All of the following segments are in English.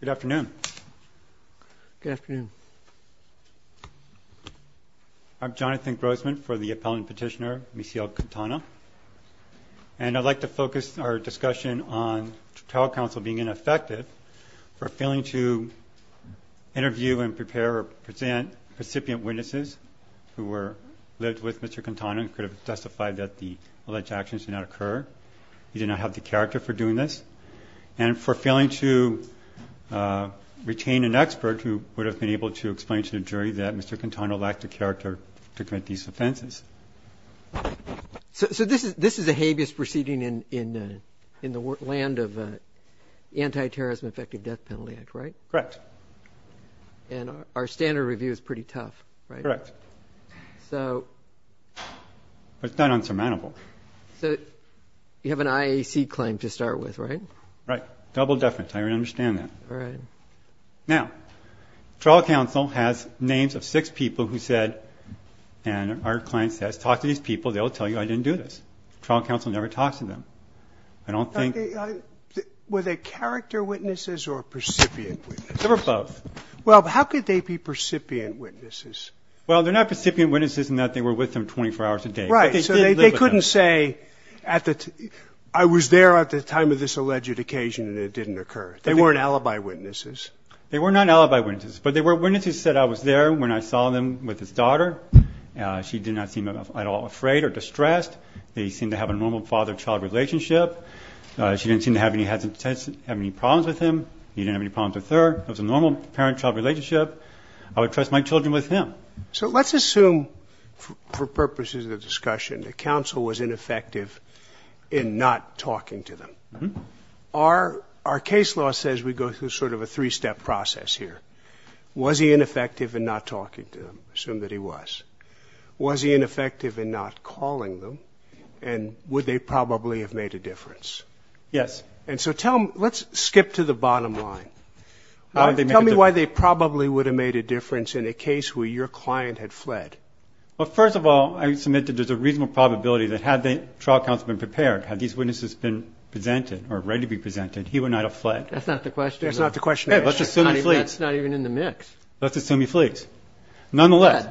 Good afternoon. Good afternoon. I'm Jonathan Grossman for the appellant petitioner Misael Quintana and I'd like to focus our discussion on trial counsel being ineffective for failing to interview and prepare or present recipient witnesses who were lived with Mr. Quintana and could have testified that the alleged actions did not occur. He did not have the character for doing this. And for failing to retain an expert who would have been able to explain to the jury that Mr. Quintana lacked the character to commit these offenses. So this is a habeas proceeding in the land of the Anti-Terrorism Effective Death Penalty Act, right? Correct. And our standard review is pretty tough, right? Correct. But it's not insurmountable. So you have an IAC claim to start with, right? Right. Double deference. I understand that. All right. Now, trial counsel has names of six people who said, and our client says, talk to these people, they'll tell you I didn't do this. Trial counsel never talks to them. I don't think... Were they character witnesses or recipient witnesses? They were both. Well, how could they be recipient witnesses? Well, they're not recipient witnesses in that they were with them 24 hours a day. Right. So they couldn't say I was there at the time of this alleged occasion and it didn't occur. They weren't alibi witnesses. They were not alibi witnesses, but they were witnesses who said I was there when I saw them with his daughter. She did not seem at all afraid or distressed. They seemed to have a normal father-child relationship. She didn't seem to have any problems with him. He didn't have any problems with her. It was a normal parent-child relationship. I would trust my children with him. So let's assume for purposes of discussion that counsel was ineffective in not talking to them. Our case law says we go through sort of a three-step process here. Was he ineffective in not talking to them? Assume that he was. Was he ineffective in not calling them? And would they probably have made a difference? Yes. And so let's skip to the bottom line. Tell me why they probably would have made a difference in a case where your client had fled. Well, first of all, I submit that there's a reasonable probability that had the trial counsel been prepared, had these witnesses been presented or ready to be presented, he would not have fled. That's not the question. That's not the question. Let's assume he flees. That's not even in the mix. Let's assume he flees. Nonetheless.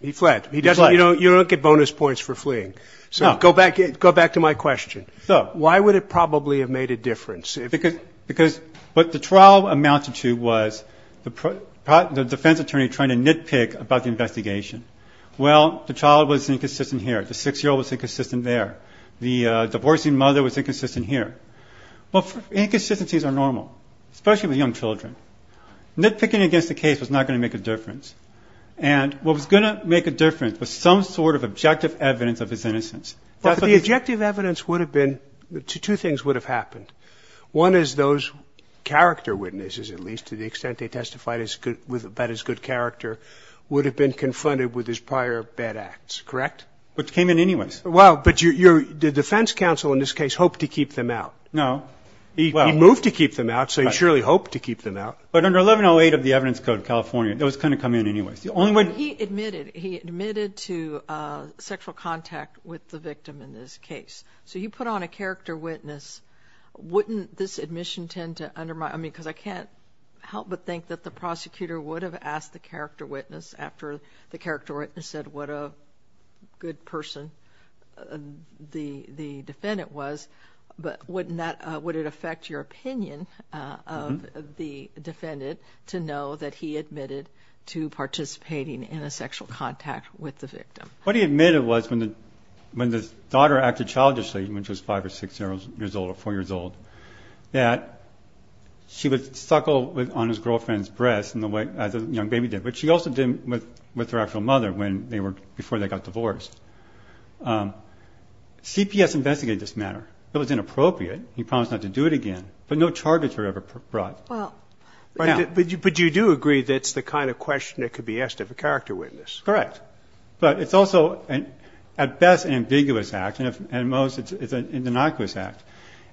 He fled. He fled. Go back to my question. Why would it probably have made a difference? Because what the trial amounted to was the defense attorney trying to nitpick about the investigation. Well, the trial was inconsistent here. The 6-year-old was inconsistent there. The divorcing mother was inconsistent here. Well, inconsistencies are normal, especially with young children. Nitpicking against the case was not going to make a difference. And what was going to make a difference was some sort of objective evidence of his innocence. But the objective evidence would have been, two things would have happened. One is those character witnesses, at least, to the extent they testified about his good character, would have been confronted with his prior bad acts, correct? Which came in anyways. Well, but the defense counsel in this case hoped to keep them out. No. He moved to keep them out, so he surely hoped to keep them out. But under 1108 of the Evidence Code of California, those kind of come in anyways. He admitted to sexual contact with the victim in this case. So you put on a character witness. Wouldn't this admission tend to undermine? Because I can't help but think that the prosecutor would have asked the character witness after the character witness said what a good person the defendant was. But would it affect your opinion of the defendant to know that he admitted to participating in a sexual contact with the victim? What he admitted was when the daughter acted childishly, when she was five or six years old or four years old, that she would suckle on his girlfriend's breast as a young baby did, which she also did with her actual mother before they got divorced. CPS investigated this matter. It was inappropriate. He promised not to do it again, but no charges were ever brought. But you do agree that's the kind of question that could be asked of a character witness. Correct. But it's also at best an ambiguous act, and at most it's a innocuous act,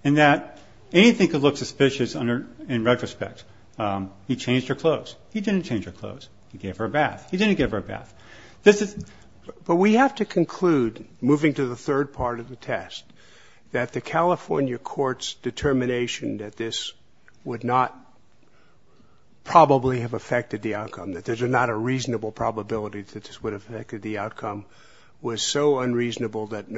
in that anything could look suspicious in retrospect. He changed her clothes. He didn't change her clothes. He gave her a bath. He didn't give her a bath. But we have to conclude, moving to the third part of the test, that the California court's determination that this would not probably have affected the outcome, that there's not a reasonable probability that this would affect the outcome, was so unreasonable that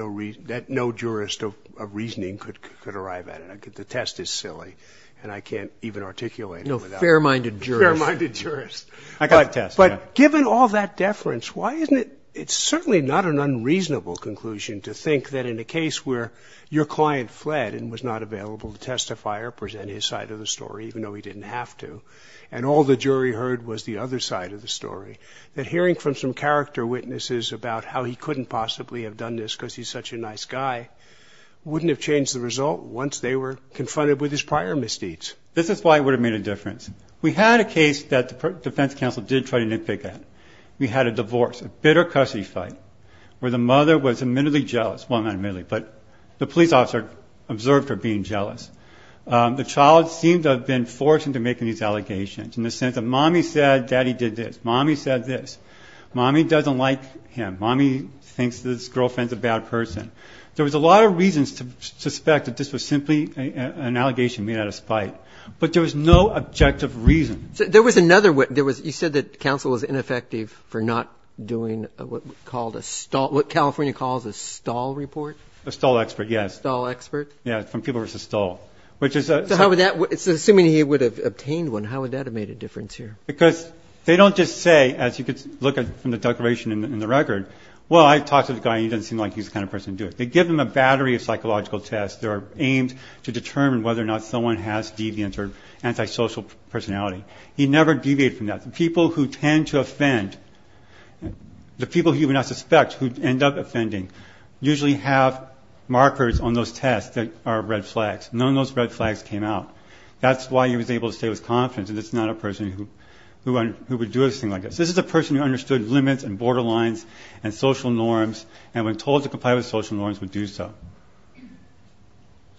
no jurist of reasoning could arrive at it. The test is silly, and I can't even articulate it. No fair-minded jurist. Fair-minded jurist. I got the test. But given all that deference, why isn't it – it's certainly not an unreasonable conclusion to think that in a case where your client fled and was not available to testify or present his side of the story, even though he didn't have to, and all the jury heard was the other side of the story, that hearing from some character witnesses about how he couldn't possibly have done this because he's such a nice guy wouldn't have changed the result once they were confronted with his prior misdeeds. This is why it would have made a difference. We had a case that the defense counsel did try to nitpick at. We had a divorce, a bitter custody fight, where the mother was admittedly jealous. Well, not admittedly, but the police officer observed her being jealous. The child seemed to have been forced into making these allegations, in the sense that Mommy said Daddy did this. Mommy said this. Mommy doesn't like him. Mommy thinks this girlfriend's a bad person. There was a lot of reasons to suspect that this was simply an allegation made out of spite, but there was no objective reason. So there was another witness. You said that counsel was ineffective for not doing what California calls a stall report. A stall expert, yes. A stall expert. Yes, from People v. Stall. So assuming he would have obtained one, how would that have made a difference here? Because they don't just say, as you could look at from the declaration in the record, well, I talked to the guy and he doesn't seem like he's the kind of person to do it. They give them a battery of psychological tests. They are aimed to determine whether or not someone has deviance or antisocial personality. He never deviated from that. The people who tend to offend, the people who you would not suspect who end up offending, usually have markers on those tests that are red flags. None of those red flags came out. That's why he was able to stay with confidence, and this is not a person who would do a thing like this. This is a person who understood limits and borderlines and social norms and when told to comply with social norms would do so.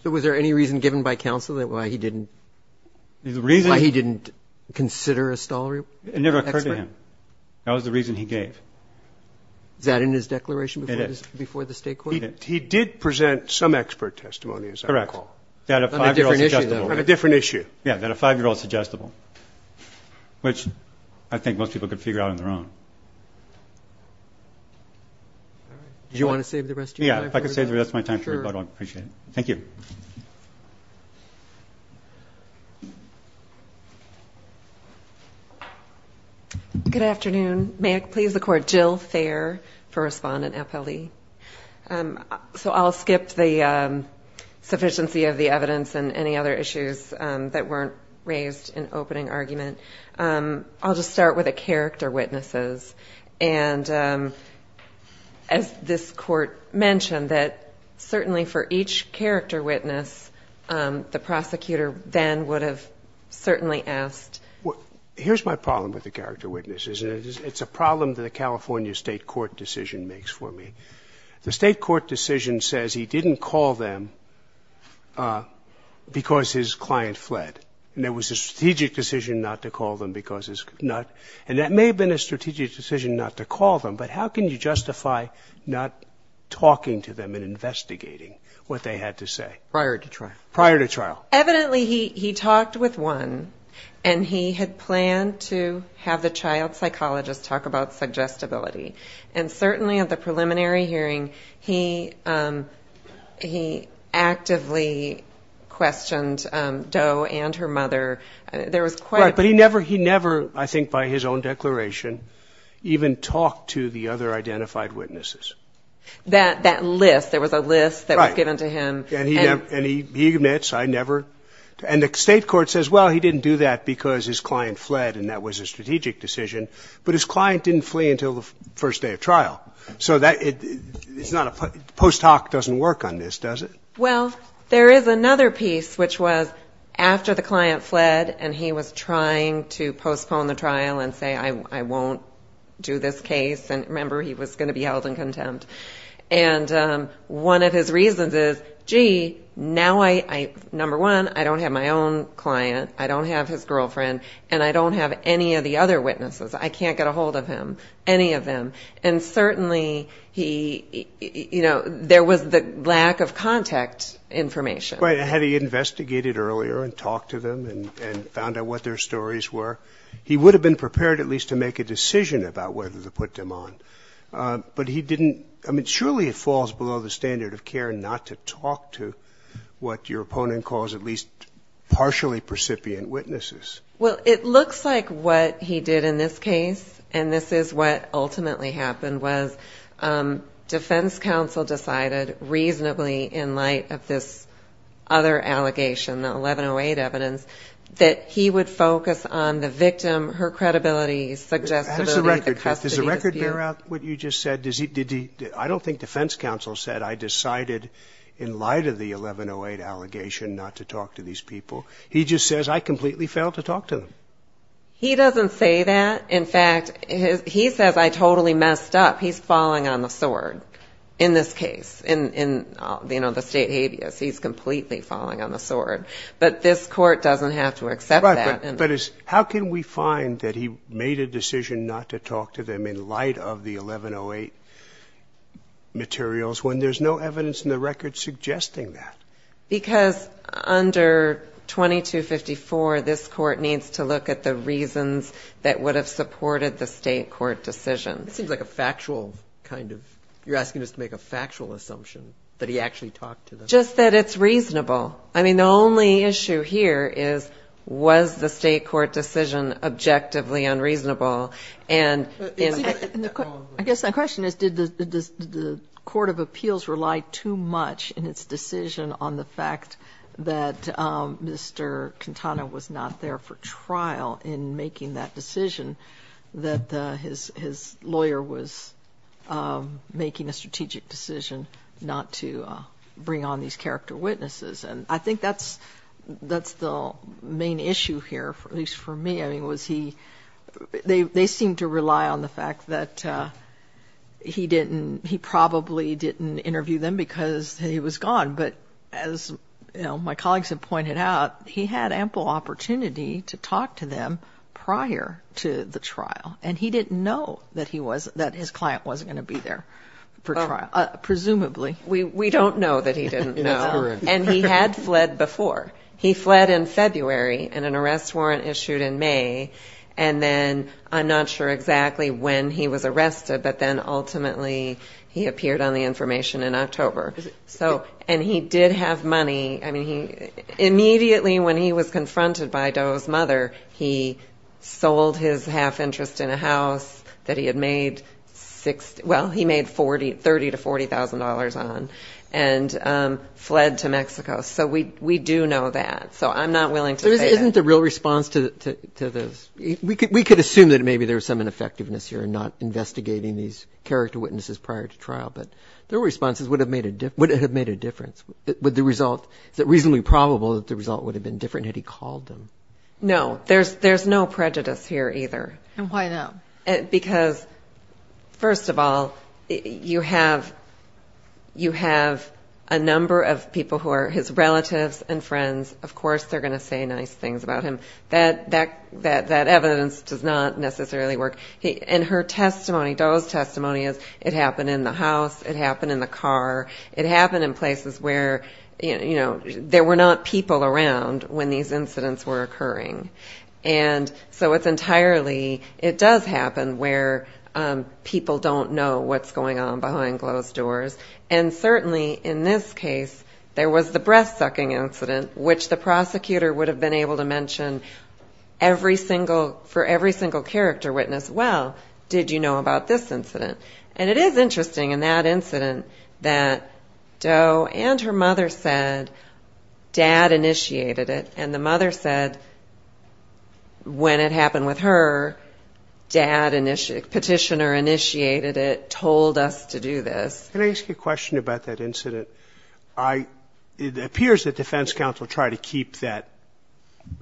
So was there any reason given by counsel that why he didn't consider a stall expert? It never occurred to him. That was the reason he gave. Is that in his declaration before the State Court? It is. He did present some expert testimony, as I recall. Correct. On a different issue, though. On a different issue. Yeah, that a 5-year-old is suggestible, which I think most people could figure out on their own. All right. Do you want to save the rest of your time? Yeah, if I could save the rest of my time for everybody, I would appreciate it. Thank you. Good afternoon. May it please the Court, Jill Thayer for Respondent Appelli. So I'll skip the sufficiency of the evidence and any other issues that weren't raised in opening argument. I'll just start with the character witnesses. And as this Court mentioned, that certainly for each character witness, the prosecutor then would have certainly asked. Here's my problem with the character witnesses. It's a problem that a California State Court decision makes for me. The State Court decision says he didn't call them because his client fled. And there was a strategic decision not to call them because it's not. And that may have been a strategic decision not to call them, but how can you justify not talking to them and investigating what they had to say? Prior to trial. Prior to trial. Evidently, he talked with one, and he had planned to have the child psychologist talk about suggestibility. And certainly at the preliminary hearing, he actively questioned Doe and her mother. There was quite a bit. Right. But he never, I think by his own declaration, even talked to the other identified witnesses. That list. There was a list that was given to him. Right. And he admits, I never. And the State Court says, well, he didn't do that because his client fled, and that was a strategic decision. But his client didn't flee until the first day of trial. So post hoc doesn't work on this, does it? Well, there is another piece, which was after the client fled, and he was trying to postpone the trial and say, I won't do this case. And remember, he was going to be held in contempt. And one of his reasons is, gee, now I, number one, I don't have my own client, I don't have his girlfriend, and I don't have any of the other witnesses. I can't get a hold of him, any of them. And certainly he, you know, there was the lack of contact information. Right. Had he investigated earlier and talked to them and found out what their stories were, he would have been prepared at least to make a decision about whether to put them on. But he didn't. I mean, surely it falls below the standard of care not to talk to what your opponent calls at least partially precipient witnesses. Well, it looks like what he did in this case, and this is what ultimately happened, was defense counsel decided reasonably in light of this other allegation, the 1108 evidence, that he would focus on the victim, her credibility, suggestibility, the custody dispute. How does the record fit? Does the record bear out what you just said? I don't think defense counsel said, I decided in light of the 1108 allegation not to talk to these people. He just says, I completely failed to talk to them. He doesn't say that. In fact, he says, I totally messed up. He's falling on the sword in this case, in, you know, the state habeas. He's completely falling on the sword. But this Court doesn't have to accept that. Right. But how can we find that he made a decision not to talk to them in light of the 1108 materials when there's no evidence in the record suggesting that? Because under 2254, this Court needs to look at the reasons that would have supported the state court decision. It seems like a factual kind of you're asking us to make a factual assumption that he actually talked to them. Just that it's reasonable. I mean, the only issue here is, was the state court decision objectively unreasonable? I guess my question is, did the Court of Appeals rely too much in its decision on the fact that Mr. Quintana was not there for trial in making that decision, that his lawyer was making a strategic decision not to bring on these character witnesses? And I think that's the main issue here, at least for me. They seemed to rely on the fact that he probably didn't interview them because he was gone. But as my colleagues have pointed out, he had ample opportunity to talk to them prior to the trial. And he didn't know that his client wasn't going to be there for trial. Presumably. We don't know that he didn't know. And he had fled before. He fled in February and an arrest warrant issued in May, and then I'm not sure exactly when he was arrested, but then ultimately he appeared on the information in October. And he did have money. I mean, immediately when he was confronted by Doe's mother, he sold his half interest in a house that he had made $30,000 to $40,000 on and fled to Mexico. So we do know that. So I'm not willing to say that. Isn't the real response to this, we could assume that maybe there was some ineffectiveness here in not investigating these character witnesses prior to trial, but their responses would have made a difference. Would the result, is it reasonably probable that the result would have been different had he called them? No. There's no prejudice here either. And why not? Because, first of all, you have a number of people who are his relatives and friends. Of course they're going to say nice things about him. That evidence does not necessarily work. And her testimony, Doe's testimony, is it happened in the house, it happened in the car, it happened in places where, you know, there were not people around when these incidents were occurring. And so it's entirely, it does happen where people don't know what's going on behind closed doors. And certainly in this case, there was the breath-sucking incident, which the prosecutor would have been able to mention for every single character witness, well, did you know about this incident? And it is interesting in that incident that Doe and her mother said, and the mother said when it happened with her, dad, petitioner initiated it, told us to do this. Can I ask you a question about that incident? It appears that defense counsel tried to keep that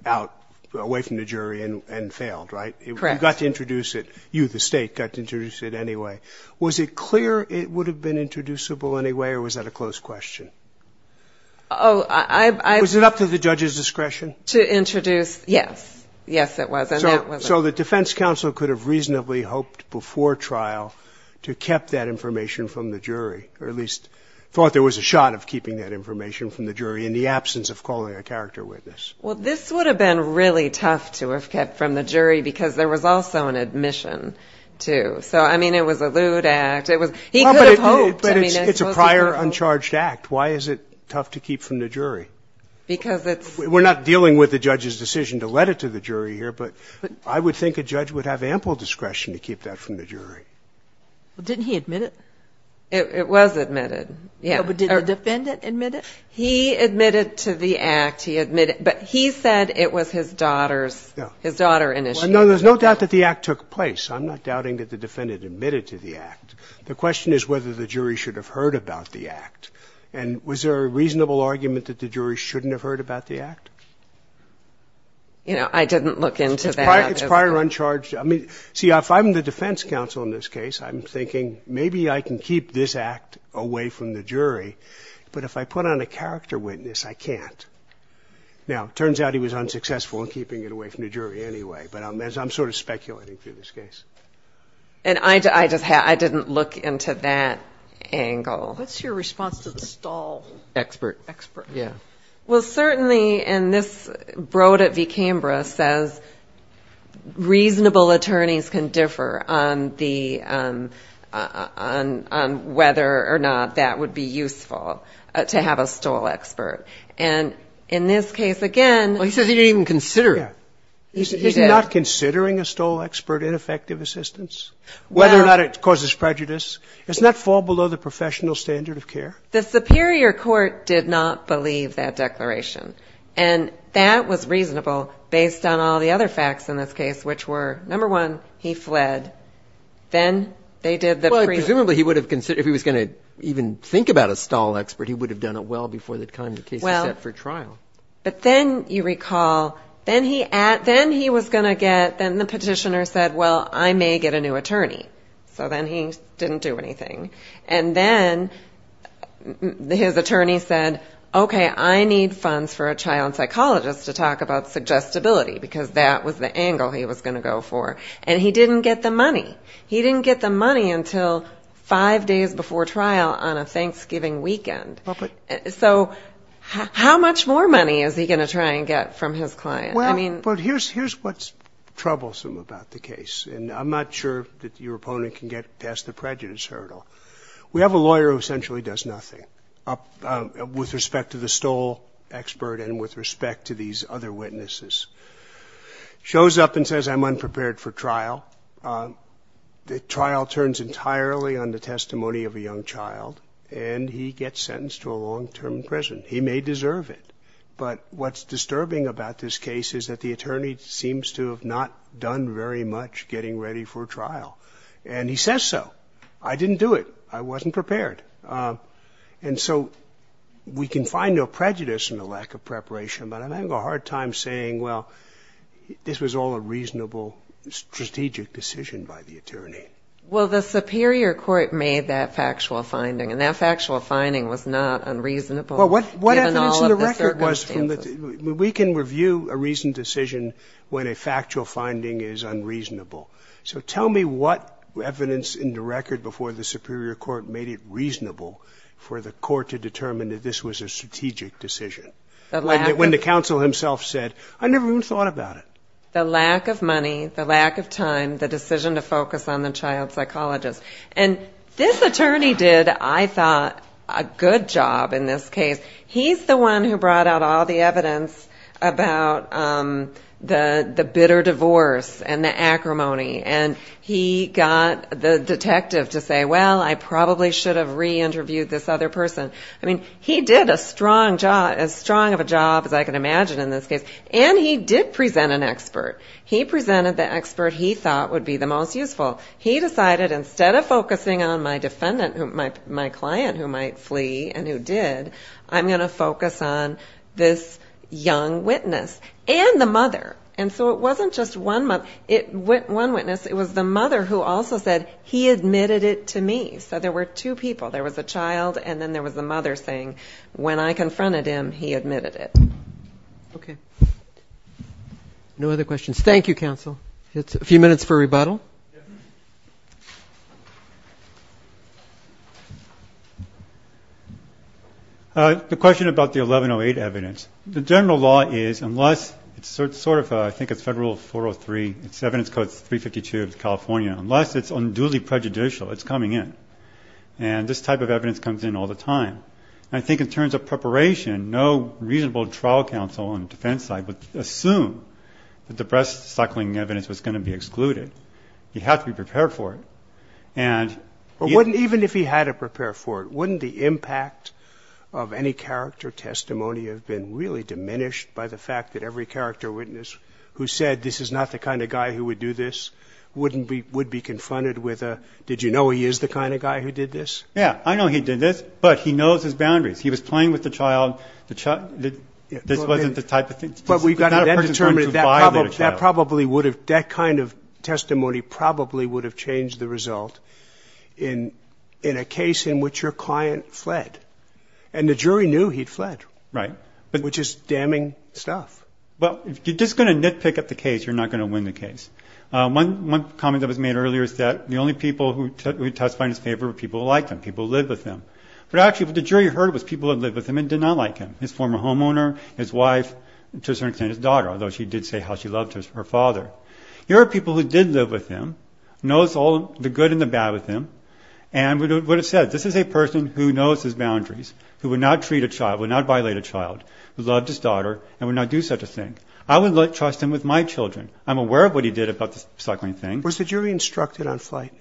out, away from the jury, and failed, right? Correct. You got to introduce it, you, the State, got to introduce it anyway. Was it clear it would have been introducible anyway, or was that a closed question? Oh, I. Was it up to the judge's discretion? To introduce, yes. Yes, it was. So the defense counsel could have reasonably hoped before trial to have kept that information from the jury, or at least thought there was a shot of keeping that information from the jury in the absence of calling a character witness. Well, this would have been really tough to have kept from the jury because there was also an admission to. So, I mean, it was a lewd act. He could have hoped. But it's a prior, uncharged act. Why is it tough to keep from the jury? Because it's. We're not dealing with the judge's decision to let it to the jury here, but I would think a judge would have ample discretion to keep that from the jury. Well, didn't he admit it? It was admitted, yes. But did the defendant admit it? He admitted to the act. He admitted. But he said it was his daughter's, his daughter initiated it. Well, no, there's no doubt that the act took place. I'm not doubting that the defendant admitted to the act. The question is whether the jury should have heard about the act. And was there a reasonable argument that the jury shouldn't have heard about the act? You know, I didn't look into that. It's prior, uncharged. I mean, see, if I'm the defense counsel in this case, I'm thinking maybe I can keep this act away from the jury. But if I put on a character witness, I can't. Now, it turns out he was unsuccessful in keeping it away from the jury anyway. But I'm sort of speculating through this case. And I just had, I didn't look into that angle. What's your response to the stall? Expert. Expert. Yeah. Well, certainly in this, Broad at v. Cambria says reasonable attorneys can differ on the, on whether or not that would be useful to have a stall expert. And in this case, again. Well, he says he didn't even consider it. He did. Is he not considering a stall expert ineffective assistance, whether or not it causes prejudice? Doesn't that fall below the professional standard of care? The superior court did not believe that declaration. And that was reasonable based on all the other facts in this case, which were, number one, he fled. Then they did the pre. Well, presumably he would have considered, if he was going to even think about a stall expert, he would have done it well before the time the case was set for trial. But then you recall, then he was going to get, then the petitioner said, well, I may get a new attorney. So then he didn't do anything. And then his attorney said, okay, I need funds for a child psychologist to talk about suggestibility, because that was the angle he was going to go for. And he didn't get the money. He didn't get the money until five days before trial on a Thanksgiving weekend. So how much more money is he going to try and get from his client? Well, but here's what's troublesome about the case, and I'm not sure that your opponent can get past the prejudice hurdle. We have a lawyer who essentially does nothing with respect to the stall expert and with respect to these other witnesses. Shows up and says, I'm unprepared for trial. The trial turns entirely on the testimony of a young child, and he gets sentenced to a long-term prison. He may deserve it. But what's disturbing about this case is that the attorney seems to have not done very much getting ready for trial. And he says so. I didn't do it. I wasn't prepared. And so we can find no prejudice in the lack of preparation, but I'm having a hard time saying, well, this was all a reasonable strategic decision by the attorney. Well, the superior court made that factual finding, and that factual finding was not unreasonable. Well, what evidence in the record was from the – we can review a reasoned decision when a factual finding is unreasonable. So tell me what evidence in the record before the superior court made it reasonable for the court to determine that this was a strategic decision. When the counsel himself said, I never even thought about it. The lack of money, the lack of time, the decision to focus on the child psychologist. And this attorney did, I thought, a good job in this case. He's the one who brought out all the evidence about the bitter divorce and the acrimony, and he got the detective to say, well, I probably should have re-interviewed this other person. I mean, he did a strong job, as strong of a job as I can imagine in this case. And he did present an expert. He presented the expert he thought would be the most useful. He decided instead of focusing on my client who might flee and who did, I'm going to focus on this young witness and the mother. And so it wasn't just one witness. It was the mother who also said, he admitted it to me. He said there were two people. There was a child and then there was the mother saying, when I confronted him, he admitted it. Okay. No other questions. Thank you, counsel. A few minutes for rebuttal. The question about the 1108 evidence. The general law is, unless it's sort of, I think it's federal 403, it's evidence code 352 of California, unless it's unduly prejudicial, it's coming in. And this type of evidence comes in all the time. And I think in terms of preparation, no reasonable trial counsel on the defense side would assume that the breast suckling evidence was going to be excluded. You have to be prepared for it. Even if he had to prepare for it, wouldn't the impact of any character testimony have been really diminished by the fact that every character witness who said, this is not the kind of guy who would do this, wouldn't be, would be confronted with a, did you know he is the kind of guy who did this? Yeah, I know he did this, but he knows his boundaries. He was playing with the child. This wasn't the type of thing. But we've got to determine that probably would have, that kind of testimony probably would have changed the result in a case in which your client fled. And the jury knew he'd fled. Right. Which is damning stuff. Well, if you're just going to nitpick at the case, you're not going to win the case. One comment that was made earlier is that the only people who testified in his favor were people who liked him, people who lived with him. But actually what the jury heard was people who lived with him and did not like him, his former homeowner, his wife, to a certain extent his daughter, although she did say how she loved her father. Here are people who did live with him, knows all the good and the bad with him, and would have said, this is a person who knows his boundaries, who would not treat a child, would not violate a child, who loved his daughter, and would not do such a thing. I would trust him with my children. I'm aware of what he did about the cycling thing. Was the jury instructed on flight?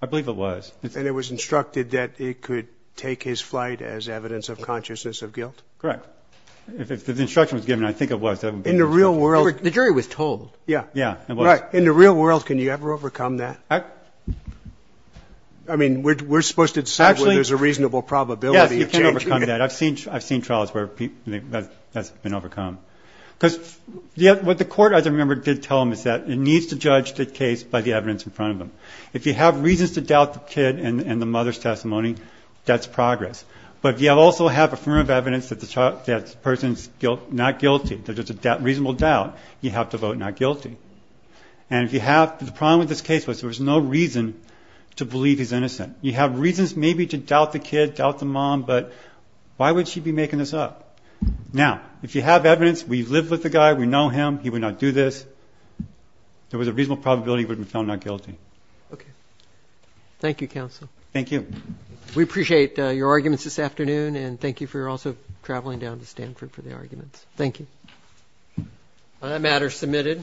I believe it was. And it was instructed that it could take his flight as evidence of consciousness of guilt? Correct. If the instruction was given, I think it was. In the real world. The jury was told. Yeah. Yeah, it was. Right. In the real world, can you ever overcome that? I mean, we're supposed to decide whether there's a reasonable probability of changing it. Yes, you can overcome that. I've seen trials where that's been overcome. Because what the court, as I remember, did tell them is that it needs to judge the case by the evidence in front of them. If you have reasons to doubt the kid and the mother's testimony, that's progress. But if you also have affirmative evidence that the person's not guilty, there's just a reasonable doubt, you have to vote not guilty. And the problem with this case was there was no reason to believe he's innocent. You have reasons maybe to doubt the kid, doubt the mom, but why would she be making this up? Now, if you have evidence, we've lived with the guy, we know him, he would not do this. There was a reasonable probability he would have been found not guilty. Okay. Thank you, counsel. Thank you. We appreciate your arguments this afternoon. And thank you for also traveling down to Stanford for the arguments. Thank you. On that matter, submitted.